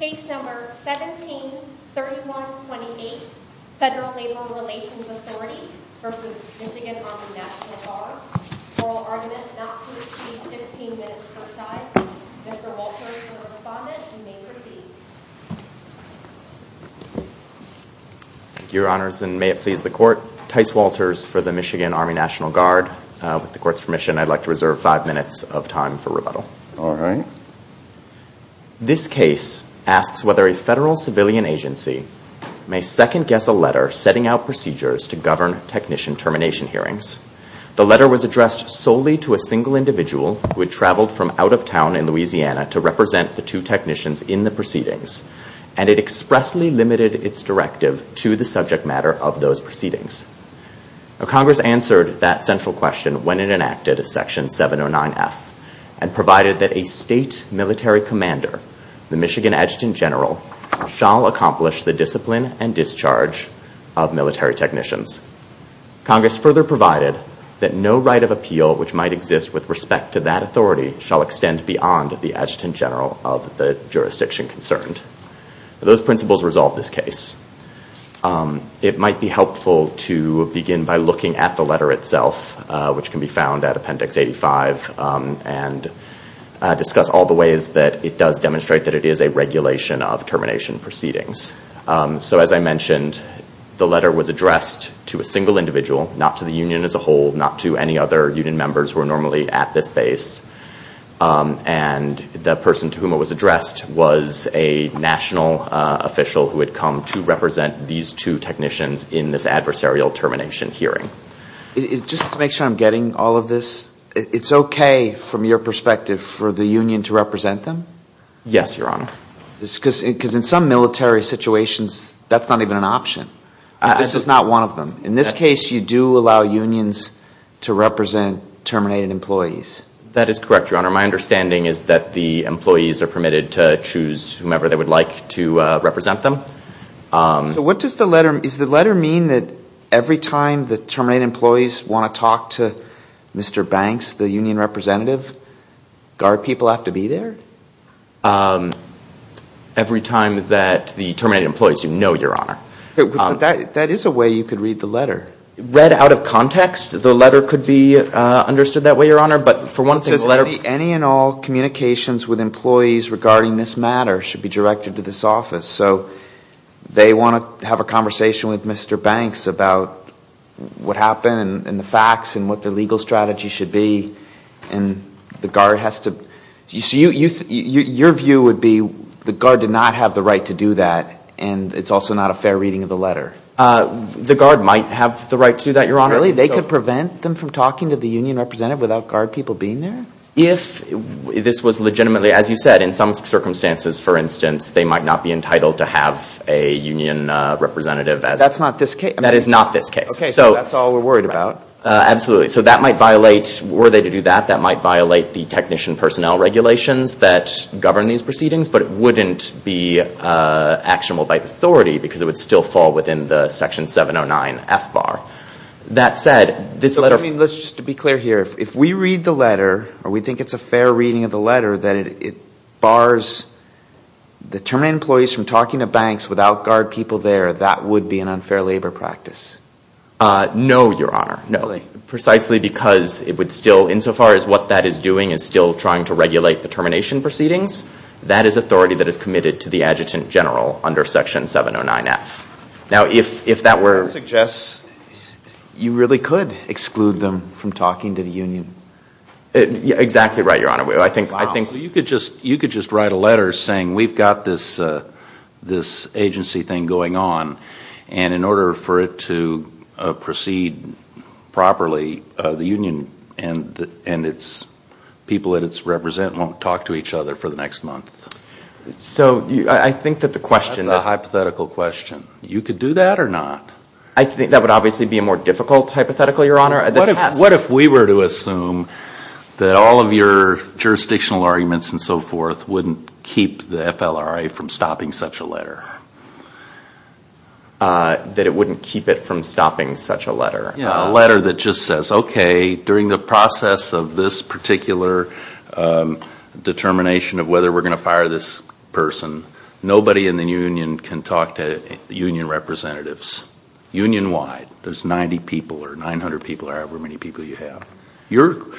Case number 17-3128, Federal Labor Relations Authority v. Michigan Army National Guard. Oral argument not to receive 15 minutes per side. Mr. Walters is the respondent. You may proceed. Thank you, Your Honors, and may it please the Court. Tyce Walters for the Michigan Army National Guard. With the Court's permission, I'd like to reserve five minutes of time for rebuttal. All right. This case asks whether a federal civilian agency may second-guess a letter setting out procedures to govern technician termination hearings. The letter was addressed solely to a single individual who had traveled from out of town in Louisiana to represent the two technicians in the proceedings, and it expressly limited its directive to the subject matter of those proceedings. Congress answered that central question when it enacted Section 709F and provided that a state military commander, the Michigan Adjutant General, shall accomplish the discipline and discharge of military technicians. Congress further provided that no right of appeal which might exist with respect to that authority shall extend beyond the Adjutant General of the jurisdiction concerned. Those principles resolve this case. It might be helpful to begin by looking at the letter itself, which can be found at Appendix 85, and discuss all the ways that it does demonstrate that it is a regulation of termination proceedings. As I mentioned, the letter was addressed to a single individual, not to the union as a whole, not to any other union members who are normally at this base. And the person to whom it was addressed was a national official who had come to represent these two technicians in this adversarial termination hearing. Just to make sure I'm getting all of this, it's okay from your perspective for the union to represent them? Yes, Your Honor. Because in some military situations, that's not even an option. This is not one of them. In this case, you do allow unions to represent terminated employees. That is correct, Your Honor. My understanding is that the employees are permitted to choose whomever they would like to represent them. So what does the letter – does the letter mean that every time the terminated employees want to talk to Mr. Banks, the union representative, guard people have to be there? Every time that the terminated employees – no, Your Honor. That is a way you could read the letter. Read out of context, the letter could be understood that way, Your Honor. But for one thing, the letter – It says any and all communications with employees regarding this matter should be directed to this office. So they want to have a conversation with Mr. Banks about what happened and the facts and what the legal strategy should be. And the guard has to – so your view would be the guard did not have the right to do that, The guard might have the right to do that, Your Honor. Really? They could prevent them from talking to the union representative without guard people being there? If this was legitimately – as you said, in some circumstances, for instance, they might not be entitled to have a union representative. That is not this case? That is not this case. Okay, so that is all we are worried about. Absolutely. So that might violate – were they to do that, that might violate the technician personnel regulations that govern these proceedings. But it wouldn't be actionable by authority because it would still fall within the Section 709F bar. That said, this letter – Let's just be clear here. If we read the letter or we think it's a fair reading of the letter that it bars the terminate employees from talking to banks without guard people there, that would be an unfair labor practice. No, Your Honor. No. Precisely because it would still – insofar as what that is doing is still trying to regulate the termination proceedings. That is authority that is committed to the adjutant general under Section 709F. Now, if that were – That suggests you really could exclude them from talking to the union. Exactly right, Your Honor. Wow. You could just write a letter saying we've got this agency thing going on. And in order for it to proceed properly, the union and its people that it represents won't talk to each other for the next month. So I think that the question – That's a hypothetical question. You could do that or not. What if we were to assume that all of your jurisdictional arguments and so forth wouldn't keep the FLRA from stopping such a letter? That it wouldn't keep it from stopping such a letter? Yeah, a letter that just says, okay, during the process of this particular determination of whether we're going to fire this person, nobody in the union can talk to union representatives. Union-wide, there's 90 people or 900 people or however many people you have. You're –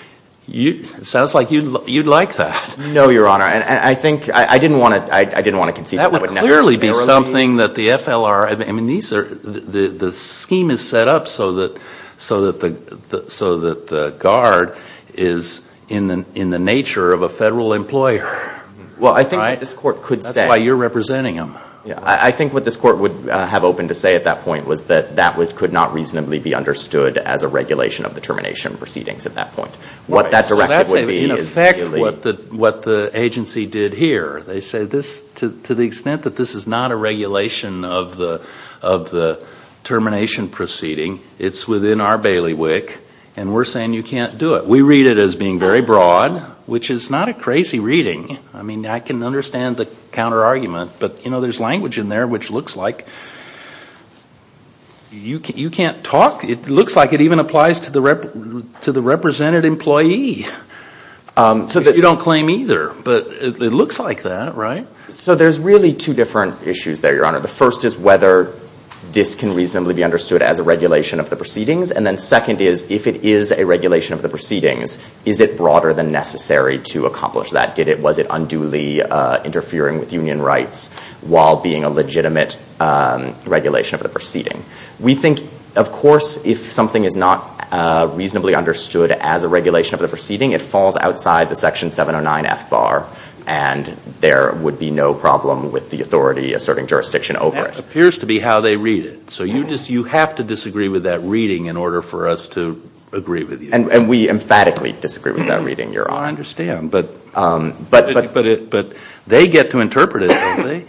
it sounds like you'd like that. No, Your Honor. And I think – I didn't want to concede that would necessarily be – That would clearly be something that the FLRA – I mean, these are – the scheme is set up so that the guard is in the nature of a federal employer. Well, I think what this court could say – That's why you're representing them. I think what this court would have open to say at that point was that that could not reasonably be understood as a regulation of the termination proceedings at that point. What that directive would be is – Well, that's in effect what the agency did here. They said this – to the extent that this is not a regulation of the termination proceeding, it's within our bailiwick, and we're saying you can't do it. We read it as being very broad, which is not a crazy reading. I mean, I can understand the counterargument, but, you know, there's language in there which looks like you can't talk. It looks like it even applies to the represented employee. You don't claim either, but it looks like that, right? So there's really two different issues there, Your Honor. The first is whether this can reasonably be understood as a regulation of the proceedings. And then second is if it is a regulation of the proceedings, is it broader than necessary to accomplish that? Did it – was it unduly interfering with union rights while being a legitimate regulation of the proceeding? We think, of course, if something is not reasonably understood as a regulation of the proceeding, it falls outside the Section 709F bar, and there would be no problem with the authority asserting jurisdiction over it. That appears to be how they read it. So you have to disagree with that reading in order for us to agree with you. And we emphatically disagree with that reading, Your Honor. Well, I understand, but they get to interpret it, don't they?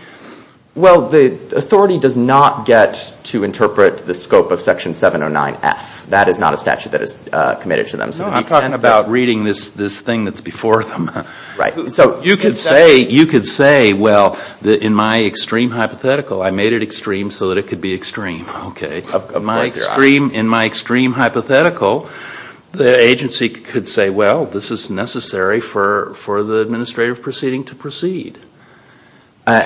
Well, the authority does not get to interpret the scope of Section 709F. That is not a statute that is committed to them. No, I'm talking about reading this thing that's before them. Right. So you could say, well, in my extreme hypothetical, I made it extreme so that it could be extreme. Okay. Of course, Your Honor. In my extreme hypothetical, the agency could say, well, this is necessary for the administrative proceeding to proceed.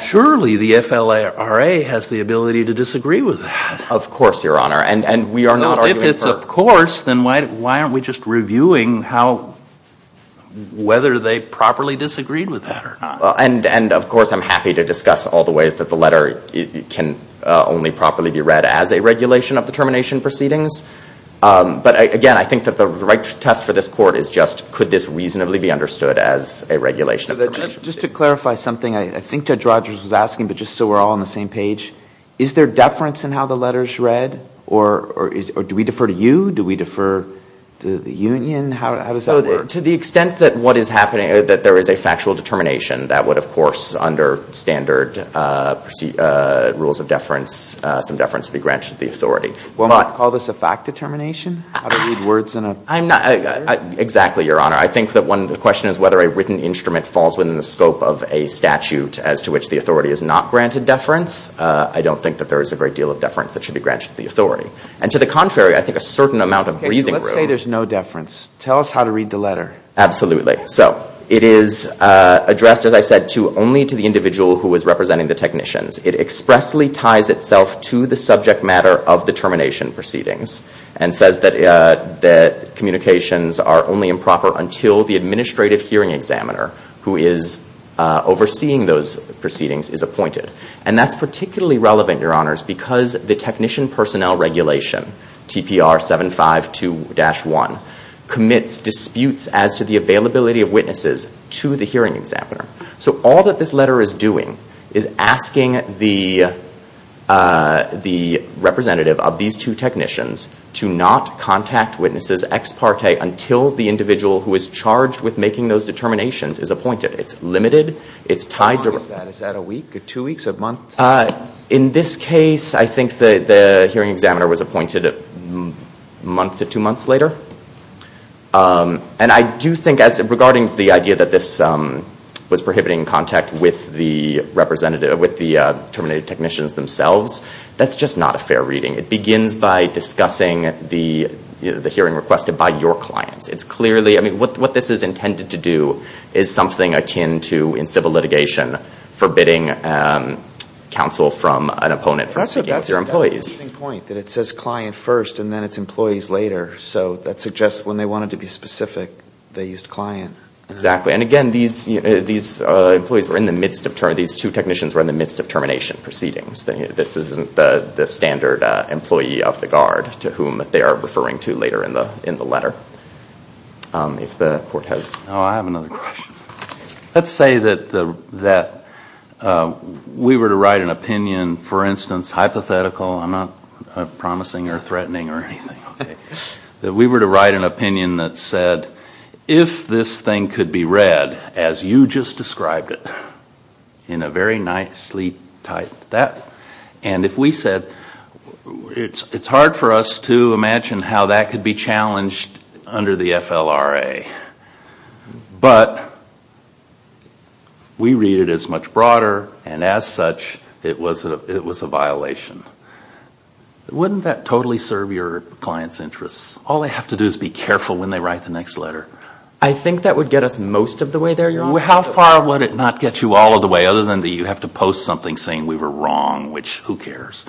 Surely the FLRA has the ability to disagree with that. Of course, Your Honor. And we are not arguing for – If it's of course, then why aren't we just reviewing how – whether they properly disagreed with that or not? And, of course, I'm happy to discuss all the ways that the letter can only properly be read as a regulation of the termination proceedings. But, again, I think that the right test for this Court is just could this reasonably be understood as a regulation of – Just to clarify something, I think Judge Rogers was asking, but just so we're all on the same page, is there deference in how the letter is read? Or do we defer to you? How does that work? To the extent that what is happening – that there is a factual determination, that would, of course, under standard rules of deference, some deference would be granted to the authority. Well, might you call this a fact determination? How to read words in a letter? Exactly, Your Honor. I think that one – the question is whether a written instrument falls within the scope of a statute as to which the authority is not granted deference. I don't think that there is a great deal of deference that should be granted to the authority. And to the contrary, I think a certain amount of breathing room – Absolutely. So, it is addressed, as I said, only to the individual who is representing the technicians. It expressly ties itself to the subject matter of the termination proceedings and says that communications are only improper until the administrative hearing examiner, who is overseeing those proceedings, is appointed. And that's particularly relevant, Your Honors, because the technician personnel regulation, TPR 752-1, commits disputes as to the availability of witnesses to the hearing examiner. So, all that this letter is doing is asking the representative of these two technicians to not contact witnesses ex parte until the individual who is charged with making those determinations is appointed. It's limited. It's tied to – How long is that? Is that a week, two weeks, a month? In this case, I think the hearing examiner was appointed a month to two months later. And I do think, regarding the idea that this was prohibiting contact with the terminated technicians themselves, that's just not a fair reading. It begins by discussing the hearing requested by your clients. What this is intended to do is something akin to, in civil litigation, forbidding counsel from an opponent from speaking with your employees. That's an interesting point, that it says client first and then it's employees later. So, that suggests when they wanted to be specific, they used client. Exactly. And again, these employees were in the midst of – these two technicians were in the midst of termination proceedings. This isn't the standard employee of the guard to whom they are referring to later in the letter. If the Court has – Oh, I have another question. Let's say that we were to write an opinion, for instance, hypothetical. I'm not promising or threatening or anything. That we were to write an opinion that said, if this thing could be read as you just described it in a very nicely typed – and if we said – it's hard for us to imagine how that could be challenged under the FLRA. But we read it as much broader and as such, it was a violation. Wouldn't that totally serve your client's interests? All they have to do is be careful when they write the next letter. I think that would get us most of the way there, Your Honor. How far would it not get you all of the way, other than that you have to post something saying we were wrong, which who cares?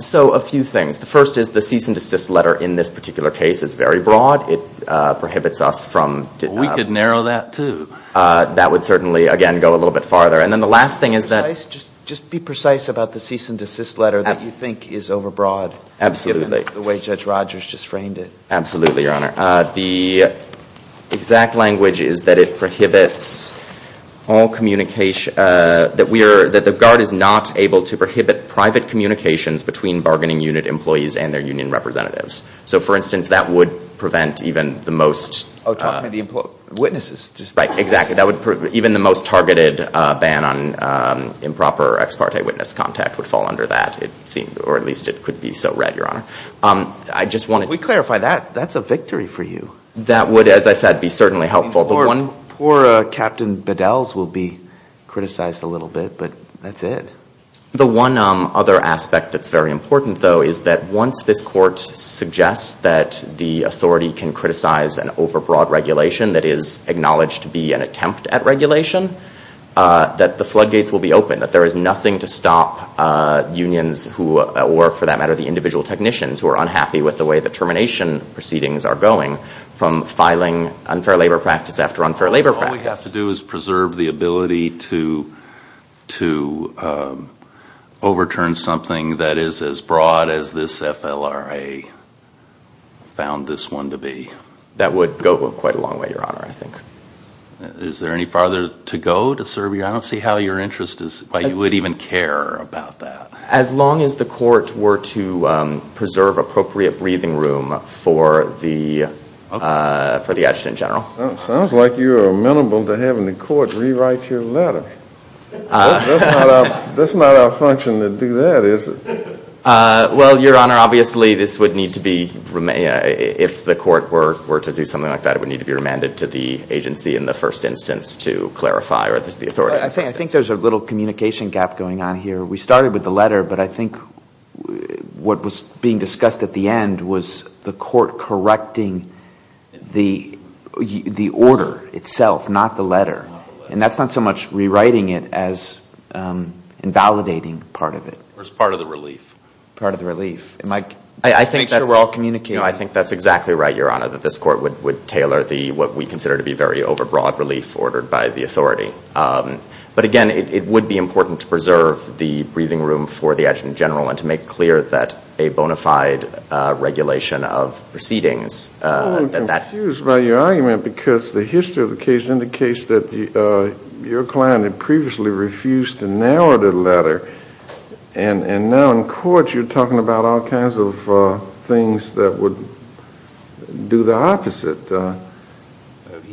So, a few things. The first is the cease and desist letter in this particular case is very broad. It prohibits us from – We could narrow that, too. That would certainly, again, go a little bit farther. And then the last thing is that – Just be precise about the cease and desist letter that you think is overbroad. Absolutely. The way Judge Rogers just framed it. Absolutely, Your Honor. The exact language is that it prohibits all communication – that the Guard is not able to prohibit private communications between bargaining unit employees and their union representatives. So, for instance, that would prevent even the most – Oh, talking about the witnesses. Right, exactly. Even the most targeted ban on improper ex parte witness contact would fall under that. Or at least it could be so read, Your Honor. If we clarify that, that's a victory for you. That would, as I said, be certainly helpful. Poor Captain Bedell's will be criticized a little bit, but that's it. The one other aspect that's very important, though, is that once this court suggests that the authority can criticize an overbroad regulation that is acknowledged to be an attempt at regulation, that the floodgates will be open, that there is nothing to stop unions or, for that matter, the individual technicians who are unhappy with the way the termination proceedings are going from filing unfair labor practice after unfair labor practice. All we have to do is preserve the ability to overturn something that is as broad as this FLRA found this one to be. That would go quite a long way, Your Honor, I think. Is there any farther to go to serve your honor? I don't see how your interest is – why you would even care about that. As long as the court were to preserve appropriate breathing room for the action in general. Sounds like you are amenable to having the court rewrite your letter. That's not our function to do that, is it? Well, Your Honor, obviously this would need to be – if the court were to do something like that, it would need to be remanded to the agency in the first instance to clarify or the authority. I think there's a little communication gap going on here. We started with the letter, but I think what was being discussed at the end was the court correcting the order itself, not the letter. And that's not so much rewriting it as invalidating part of it. Or as part of the relief. Part of the relief. Make sure we're all communicating. I think that's exactly right, Your Honor, that this court would tailor what we consider to be very overbroad relief ordered by the authority. But again, it would be important to preserve the breathing room for the action in general and to make clear that a bona fide regulation of proceedings. I'm a little confused by your argument because the history of the case indicates that your client had previously refused to narrow the letter. And now in court you're talking about all kinds of things that would do the opposite.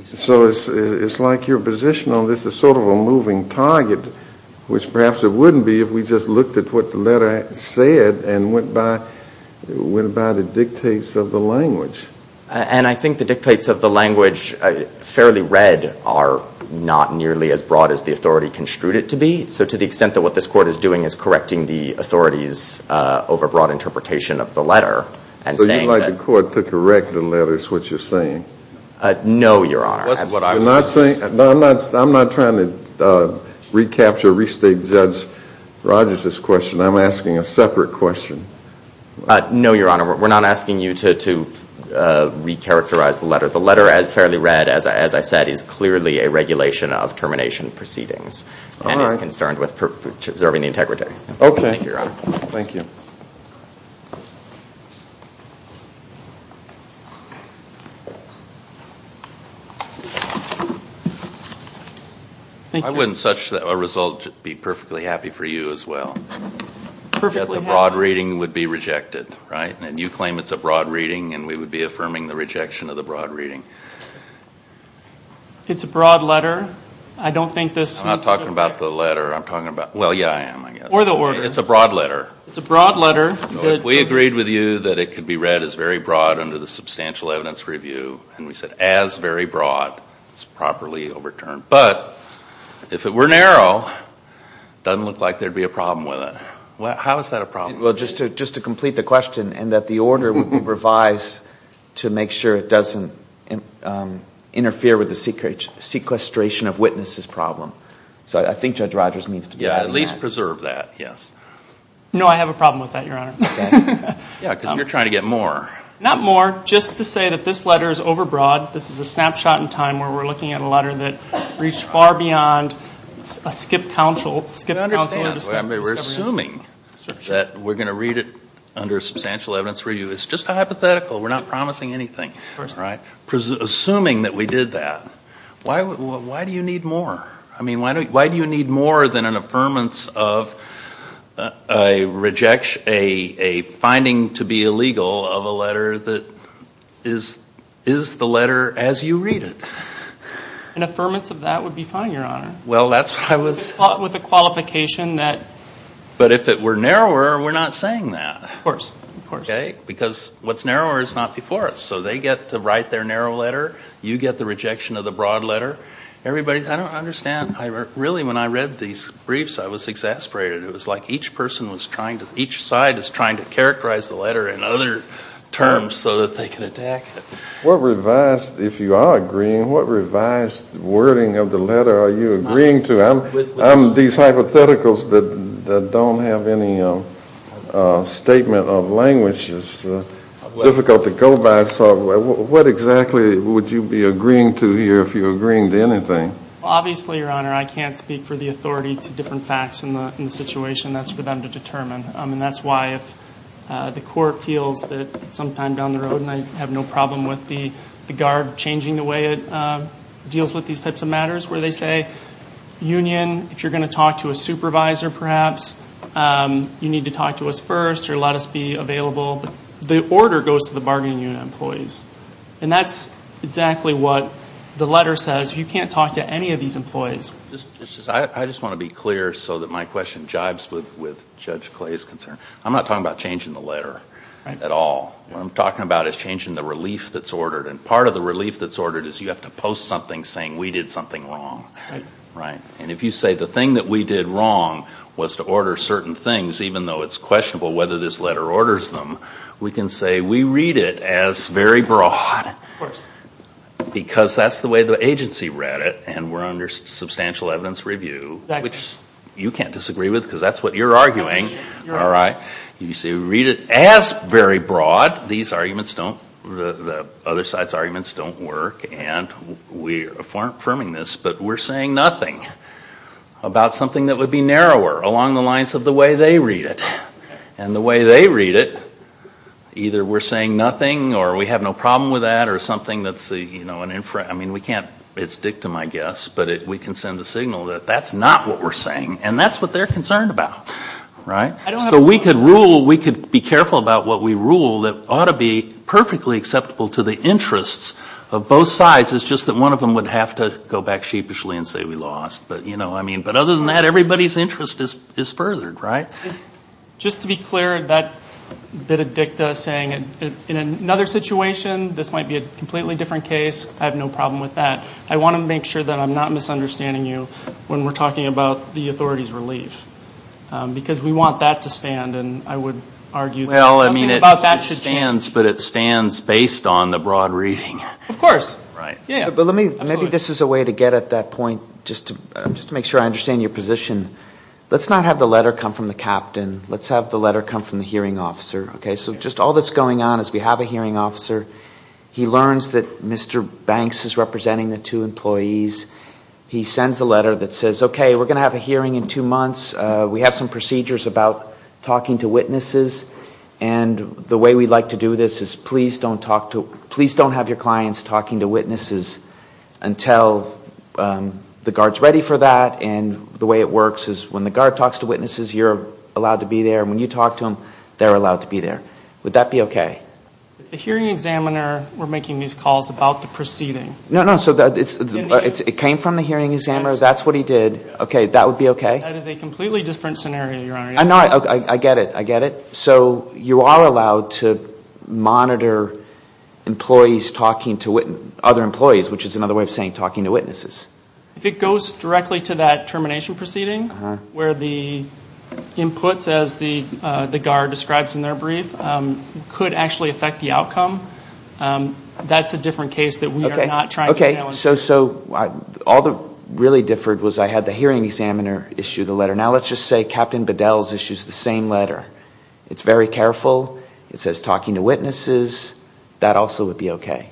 So it's like your position on this is sort of a moving target, which perhaps it wouldn't be if we just looked at what the letter said and went by the dictates of the language. And I think the dictates of the language, fairly read, are not nearly as broad as the authority construed it to be. So to the extent that what this court is doing is correcting the authority's overbroad interpretation of the letter. So you'd like the court to correct the letters, what you're saying? No, Your Honor. I'm not trying to recapture or restate Judge Rogers' question. I'm asking a separate question. No, Your Honor. We're not asking you to recharacterize the letter. The letter, as fairly read, as I said, is clearly a regulation of termination proceedings and is concerned with preserving the integrity. Okay. Thank you, Your Honor. Thank you. I wouldn't such a result be perfectly happy for you as well. Perfectly happy. That the broad reading would be rejected, right? And you claim it's a broad reading and we would be affirming the rejection of the broad reading. It's a broad letter. I don't think this needs to be. I'm not talking about the letter. I'm talking about, well, yeah, I am, I guess. Or the order. It's a broad letter. It's a broad letter. We agreed with you that it could be read as very broad under the substantial evidence review. And we said as very broad is properly overturned. But if it were narrow, it doesn't look like there would be a problem with it. How is that a problem? Well, just to complete the question and that the order would be revised to make sure it doesn't interfere with the sequestration of witnesses problem. So I think Judge Rogers needs to be happy with that. Yeah, at least preserve that, yes. No, I have a problem with that, Your Honor. Yeah, because you're trying to get more. Not more. Just to say that this letter is overbroad. This is a snapshot in time where we're looking at a letter that reached far beyond a skipped counsel. We're assuming that we're going to read it under a substantial evidence review. It's just a hypothetical. We're not promising anything. Assuming that we did that, why do you need more? I mean, why do you need more than an affirmance of a finding to be illegal of a letter that is the letter as you read it? An affirmance of that would be fine, Your Honor. Well, that's what I was... With the qualification that... But if it were narrower, we're not saying that. Of course, of course. Okay? Because what's narrower is not before us. So they get to write their narrow letter. You get the rejection of the broad letter. Everybody... I don't understand. Really, when I read these briefs, I was exasperated. It was like each person was trying to... each side is trying to characterize the letter in other terms so that they can attack it. What revised... If you are agreeing, what revised wording of the letter are you agreeing to? I'm... I'm... These hypotheticals that don't have any statement of language is difficult to go by. So what exactly would you be agreeing to here if you're agreeing to anything? Obviously, Your Honor, I can't speak for the authority to different facts in the situation. That's for them to determine. And that's why if the court feels that sometime down the road, and I have no problem with the guard changing the way it deals with these types of matters, where they say, Union, if you're going to talk to a supervisor perhaps, you need to talk to us first or let us be available. The order goes to the bargaining unit employees. And that's exactly what the letter says. You can't talk to any of these employees. I just want to be clear so that my question jibes with Judge Clay's concern. I'm not talking about changing the letter at all. What I'm talking about is changing the relief that's ordered. And part of the relief that's ordered is you have to post something saying we did something wrong. And if you say the thing that we did wrong was to order certain things, even though it's questionable whether this letter orders them, we can say we read it as very broad because that's the way the agency read it and we're under substantial evidence review, which you can't disagree with because that's what you're arguing. All right? You say we read it as very broad. These arguments don't, the other side's arguments don't work. And we're affirming this, but we're saying nothing about something that would be narrower along the lines of the way they read it. And the way they read it, either we're saying nothing or we have no problem with that or something that's, you know, an inference. I mean, we can't, it's dictum, I guess, but we can send a signal that that's not what we're saying. And that's what they're concerned about. Right? So we could rule, we could be careful about what we rule that ought to be perfectly acceptable to the interests of both sides. It's just that one of them would have to go back sheepishly and say we lost. But, you know, I mean, but other than that, everybody's interest is furthered, right? Just to be clear, that bit of dictum saying, in another situation this might be a completely different case, I have no problem with that. So I want to make sure that I'm not misunderstanding you when we're talking about the authority's relief. Because we want that to stand, and I would argue that something about that should stand. Well, I mean, it stands, but it stands based on the broad reading. Of course. Right. Yeah. But let me, maybe this is a way to get at that point, just to make sure I understand your position. Let's not have the letter come from the captain. Let's have the letter come from the hearing officer. Okay? So just all that's going on is we have a hearing officer. He learns that Mr. Banks is representing the two employees. He sends a letter that says, okay, we're going to have a hearing in two months. We have some procedures about talking to witnesses. And the way we like to do this is please don't talk to, please don't have your clients talking to witnesses until the guard's ready for that. And the way it works is when the guard talks to witnesses, you're allowed to be there. And when you talk to them, they're allowed to be there. Would that be okay? If the hearing examiner were making these calls about the proceeding. No, no. So it came from the hearing examiner. That's what he did. Okay. That would be okay? That is a completely different scenario, Your Honor. I know. I get it. I get it. So you are allowed to monitor employees talking to other employees, which is another way of saying talking to witnesses. If it goes directly to that termination proceeding, where the inputs, as the guard describes in their brief, could actually affect the outcome, that's a different case that we are not trying to challenge. Okay. So all that really differed was I had the hearing examiner issue the letter. Now let's just say Captain Bedell's issues the same letter. It's very careful. It says talking to witnesses. That also would be okay.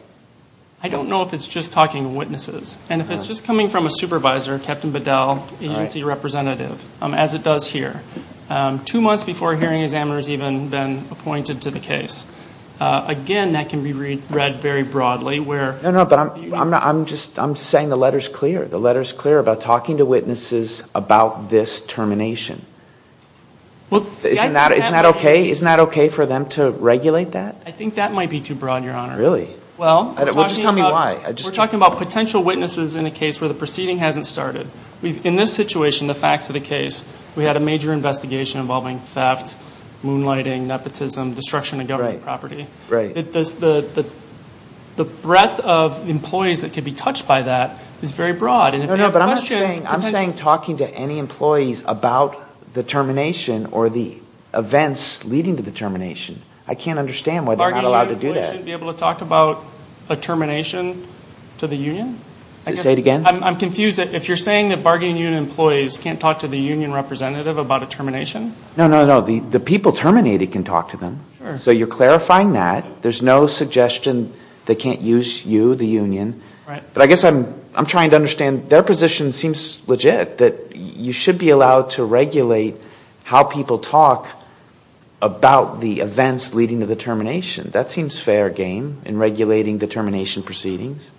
I don't know if it's just talking to witnesses. And if it's just coming from a supervisor, Captain Bedell, agency representative, as it does here, two months before a hearing examiner has even been appointed to the case, again, that can be read very broadly where... No, no, but I'm just saying the letter is clear. The letter is clear about talking to witnesses about this termination. Isn't that okay? Isn't that okay for them to regulate that? I think that might be too broad, Your Honor. Really? Well, just tell me why. We're talking about potential witnesses in a case where the proceeding hasn't started. In this situation, the facts of the case, we had a major investigation involving theft, moonlighting, nepotism, destruction of government property. Right. The breadth of employees that could be touched by that is very broad. And if you have questions... No, no, but I'm not saying talking to any employees about the termination or the events leading to the termination. I can't understand why they're not allowed to do that. Shouldn't they be able to talk about a termination to the union? Say it again? I'm confused. If you're saying that bargaining union employees can't talk to the union representative about a termination? No, no, no. The people terminating can talk to them. Sure. So you're clarifying that. There's no suggestion they can't use you, the union. Right. But I guess I'm trying to understand their position seems legit, that you should be allowed to regulate how people talk about the events leading to the termination. That seems fair game in regulating the termination proceedings.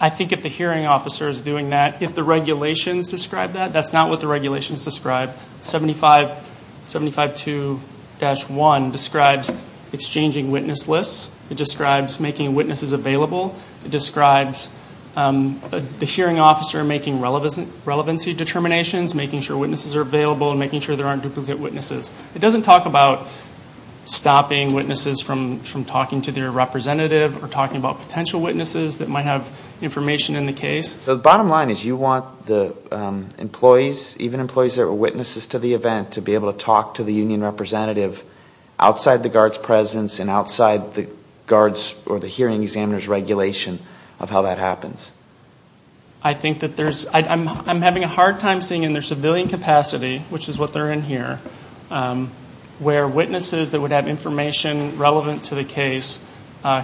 I think if the hearing officer is doing that, if the regulations describe that, that's not what the regulations describe. 75.2-1 describes exchanging witness lists. It describes making witnesses available. It describes the hearing officer making relevancy determinations, making sure witnesses are available and making sure there aren't duplicate witnesses. It doesn't talk about stopping witnesses from talking to their representative or talking about potential witnesses that might have information in the case. The bottom line is you want the employees, even employees that were witnesses to the event, to be able to talk to the union representative outside the guards' presence and outside the guards' or the hearing examiner's regulation of how that happens. I think that there's – I'm having a hard time seeing in their civilian capacity, which is what they're in here, where witnesses that would have information relevant to the case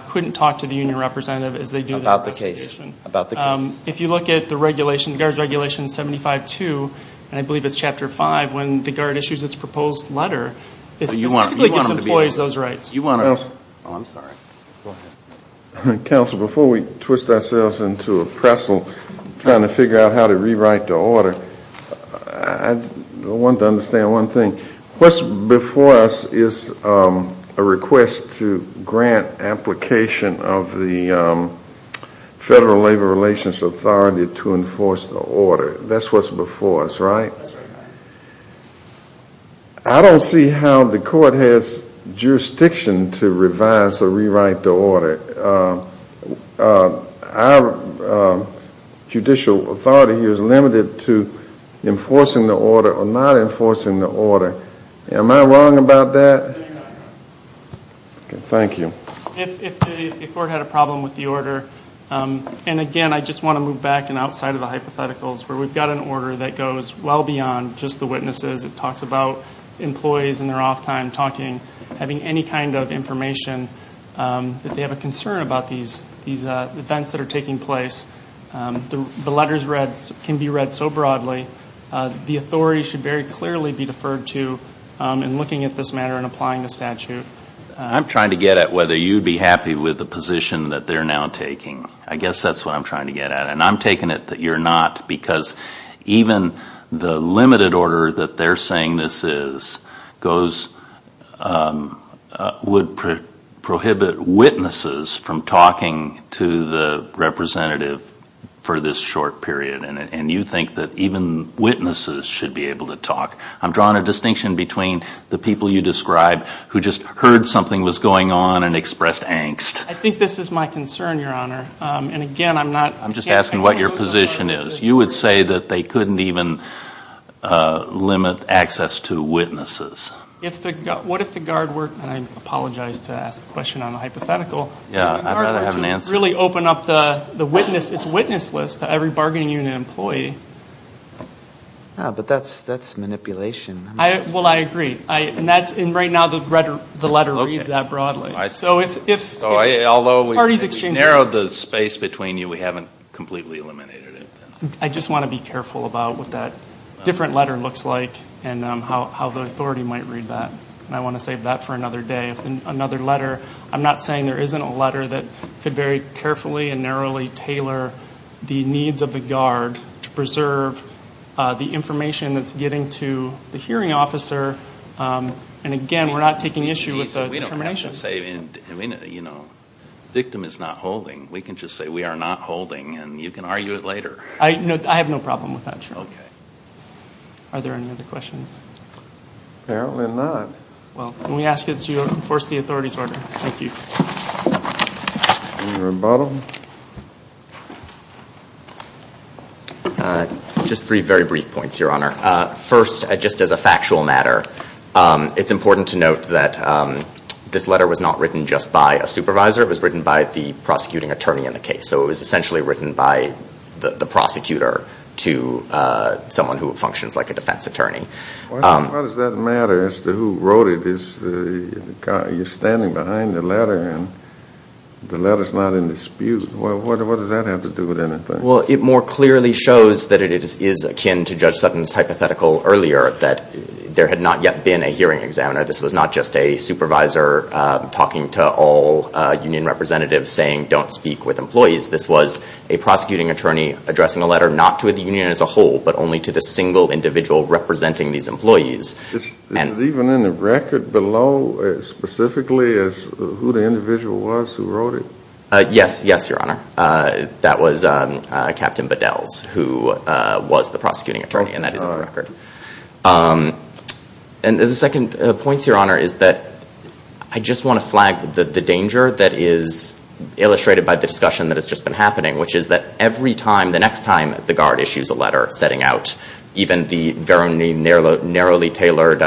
couldn't talk to the union representative as they do the investigation. About the case. About the case. If you look at the regulation, the guards' regulation 75.2, and I believe it's Chapter 5 when the guard issues its proposed letter, it specifically gives employees those rights. You want to – oh, I'm sorry. Go ahead. Counsel, before we twist ourselves into a pretzel trying to figure out how to rewrite the order, I want to understand one thing. What's before us is a request to grant application of the Federal Labor Relations Authority to enforce the order. That's what's before us, right? That's right. I don't see how the court has jurisdiction to revise or rewrite the order. Our judicial authority here is limited to enforcing the order or not enforcing the order. Am I wrong about that? No, you're not, Your Honor. Thank you. If the court had a problem with the order, and again, I just want to move back and outside of the hypotheticals, where we've got an order that goes well beyond just the witnesses. It talks about employees in their off time talking, having any kind of information that they have a concern about these events that are taking place. The letters can be read so broadly. The authority should very clearly be deferred to in looking at this matter and applying the statute. I'm trying to get at whether you'd be happy with the position that they're now taking. I guess that's what I'm trying to get at, and I'm taking it that you're not, because even the limited order that they're saying this is would prohibit witnesses from talking to the representative for this short period, and you think that even witnesses should be able to talk. I'm drawing a distinction between the people you describe who just heard something was going on and expressed angst. I think this is my concern, Your Honor, and again, I'm not— I'm just asking what your position is. You would say that they couldn't even limit access to witnesses. What if the guard were—and I apologize to ask the question on the hypothetical. Yeah, I'd rather have an answer. In order to really open up the witness list to every bargaining unit employee. But that's manipulation. Well, I agree, and right now the letter reads that broadly. Although we narrowed the space between you, we haven't completely eliminated it. I just want to be careful about what that different letter looks like and how the authority might read that, and I want to save that for another day. Another letter, I'm not saying there isn't a letter that could very carefully and narrowly tailor the needs of the guard to preserve the information that's getting to the hearing officer, and again, we're not taking issue with the termination. The victim is not holding. We can just say we are not holding, and you can argue it later. I have no problem with that, Your Honor. Okay. Are there any other questions? Apparently not. Well, when we ask it, you enforce the authority's order. Thank you. Just three very brief points, Your Honor. First, just as a factual matter, it's important to note that this letter was not written just by a supervisor. It was written by the prosecuting attorney in the case, so it was essentially written by the prosecutor to someone who functions like a defense attorney. Why does that matter as to who wrote it? You're standing behind the letter, and the letter's not in dispute. What does that have to do with anything? Well, it more clearly shows that it is akin to Judge Sutton's hypothetical earlier that there had not yet been a hearing examiner. This was not just a supervisor talking to all union representatives saying don't speak with employees. This was a prosecuting attorney addressing a letter not to the union as a whole, but only to the single individual representing these employees. Is it even in the record below specifically as to who the individual was who wrote it? Yes. Yes, Your Honor. That was Captain Bedell's, who was the prosecuting attorney, and that is in the record. And the second point, Your Honor, is that I just want to flag the danger that is illustrated by the discussion that has just been happening, which is that every time, the next time the guard issues a letter setting out even the very narrowly tailored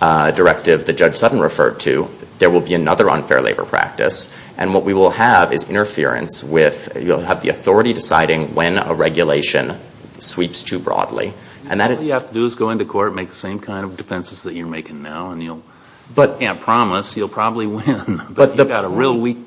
directive that Judge Sutton referred to, there will be another unfair labor practice. And what we will have is interference with the authority deciding when a regulation sweeps too broadly. All you have to do is go into court and make the same kind of defenses that you're making now, and I can't promise you'll probably win, but you've got a real weak defense.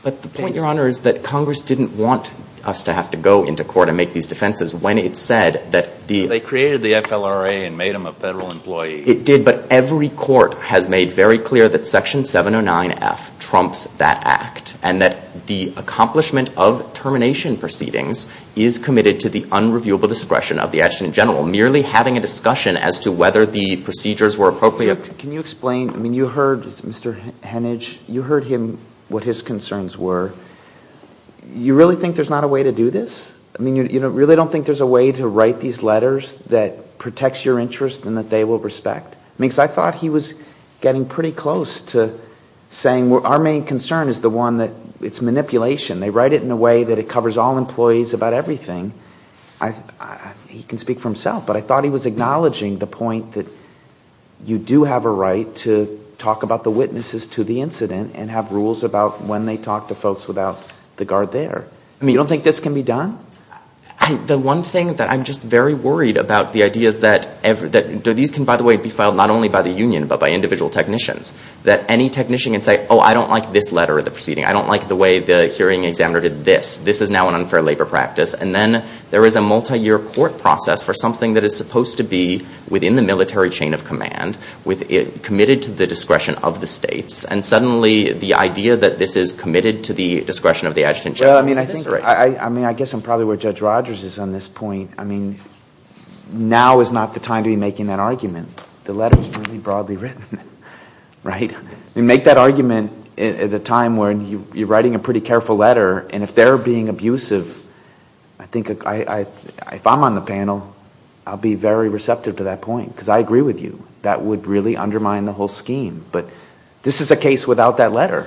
But the point, Your Honor, is that Congress didn't want us to have to go into court and make these defenses when it said that the — They created the FLRA and made them a federal employee. It did, but every court has made very clear that Section 709F trumps that act and that the accomplishment of termination proceedings is committed to the unreviewable discretion of the adjutant general, merely having a discussion as to whether the procedures were appropriate. Can you explain? I mean, you heard Mr. Henage. You heard him, what his concerns were. You really think there's not a way to do this? I mean, you really don't think there's a way to write these letters that protects your interests and that they will respect? Because I thought he was getting pretty close to saying our main concern is the one that it's manipulation. They write it in a way that it covers all employees about everything. He can speak for himself, but I thought he was acknowledging the point that you do have a right to talk about the witnesses to the incident and have rules about when they talk to folks without the guard there. I mean, you don't think this can be done? The one thing that I'm just very worried about, the idea that these can, by the way, be filed not only by the union, but by individual technicians, that any technician can say, oh, I don't like this letter or the proceeding. I don't like the way the hearing examiner did this. This is now an unfair labor practice. And then there is a multiyear court process for something that is supposed to be within the military chain of command, committed to the discretion of the states, and suddenly the idea that this is committed to the discretion of the adjutant general. Well, I mean, I guess I'm probably where Judge Rogers is on this point. I mean, now is not the time to be making that argument. The letter is really broadly written, right? Make that argument at a time when you're writing a pretty careful letter, and if they're being abusive, I think if I'm on the panel, I'll be very receptive to that point because I agree with you. That would really undermine the whole scheme. But this is a case without that letter.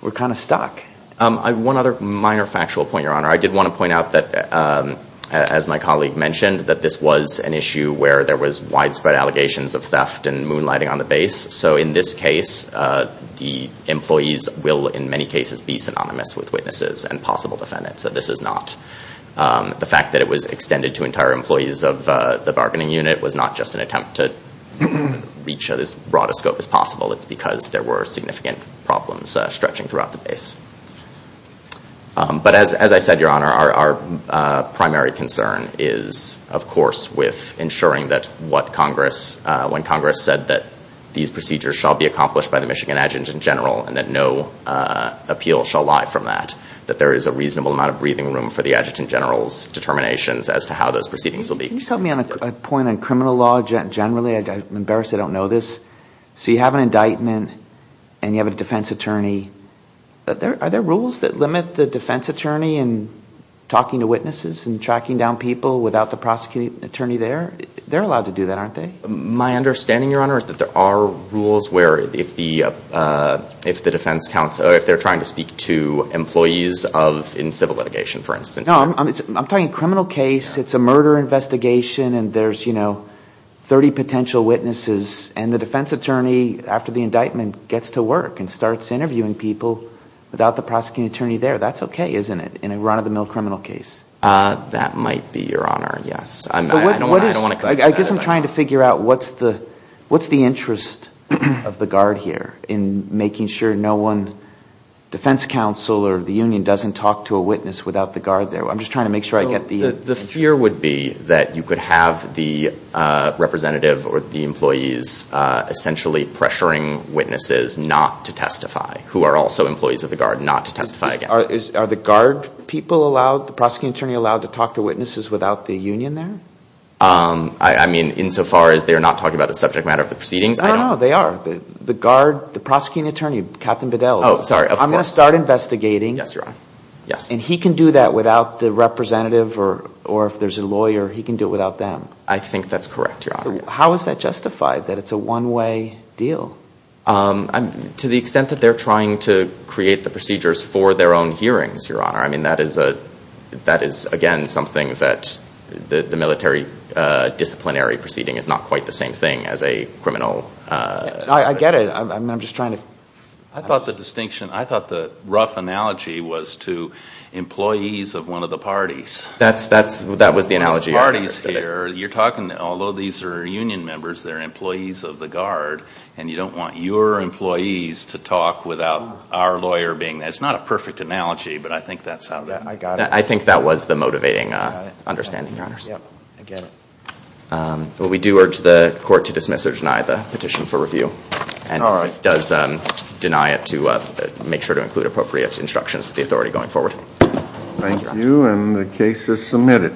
We're kind of stuck. One other minor factual point, Your Honor. I did want to point out that, as my colleague mentioned, that this was an issue where there was widespread allegations of theft and moonlighting on the base. So in this case, the employees will in many cases be synonymous with witnesses and possible defendants. This is not. The fact that it was extended to entire employees of the bargaining unit was not just an attempt to reach as broad a scope as possible. It's because there were significant problems stretching throughout the base. But as I said, Your Honor, our primary concern is, of course, with ensuring that when Congress said that these procedures shall be accomplished by the Michigan adjutant general and that no appeal shall lie from that, that there is a reasonable amount of breathing room for the adjutant general's determinations as to how those proceedings will be. Can you tell me on a point on criminal law generally? I'm embarrassed I don't know this. So you have an indictment and you have a defense attorney. Are there rules that limit the defense attorney in talking to witnesses and tracking down people without the prosecuting attorney there? They're allowed to do that, aren't they? My understanding, Your Honor, is that there are rules where if the defense counsel, if they're trying to speak to employees in civil litigation, for instance. No, I'm talking criminal case. It's a murder investigation and there's, you know, 30 potential witnesses. And the defense attorney, after the indictment, gets to work and starts interviewing people without the prosecuting attorney there. That's okay, isn't it, in a run-of-the-mill criminal case? That might be, Your Honor, yes. I guess I'm trying to figure out what's the interest of the guard here in making sure no one, defense counsel or the union, doesn't talk to a witness without the guard there. I'm just trying to make sure I get the picture. The fear would be that you could have the representative or the employees essentially pressuring witnesses not to testify, who are also employees of the guard, not to testify again. Are the guard people allowed, the prosecuting attorney allowed, to talk to witnesses without the union there? I mean, insofar as they're not talking about the subject matter of the proceedings, I don't know. No, they are. The guard, the prosecuting attorney, Captain Bedell. Oh, sorry. Of course. I'm going to start investigating. Yes, Your Honor. Yes. And he can do that without the representative or if there's a lawyer, he can do it without them. I think that's correct, Your Honor. How is that justified, that it's a one-way deal? To the extent that they're trying to create the procedures for their own hearings, Your Honor. I mean, that is, again, something that the military disciplinary proceeding is not quite the same thing as a criminal. I get it. I'm just trying to. I thought the rough analogy was to employees of one of the parties. That was the analogy. You're talking, although these are union members, they're employees of the guard, and you don't want your employees to talk without our lawyer being there. It's not a perfect analogy, but I think that's how that. I got it. I think that was the motivating understanding, Your Honors. I get it. But we do urge the court to dismiss or deny the petition for review. All right. And it does deny it to make sure to include appropriate instructions to the authority going forward. Thank you, and the case is submitted.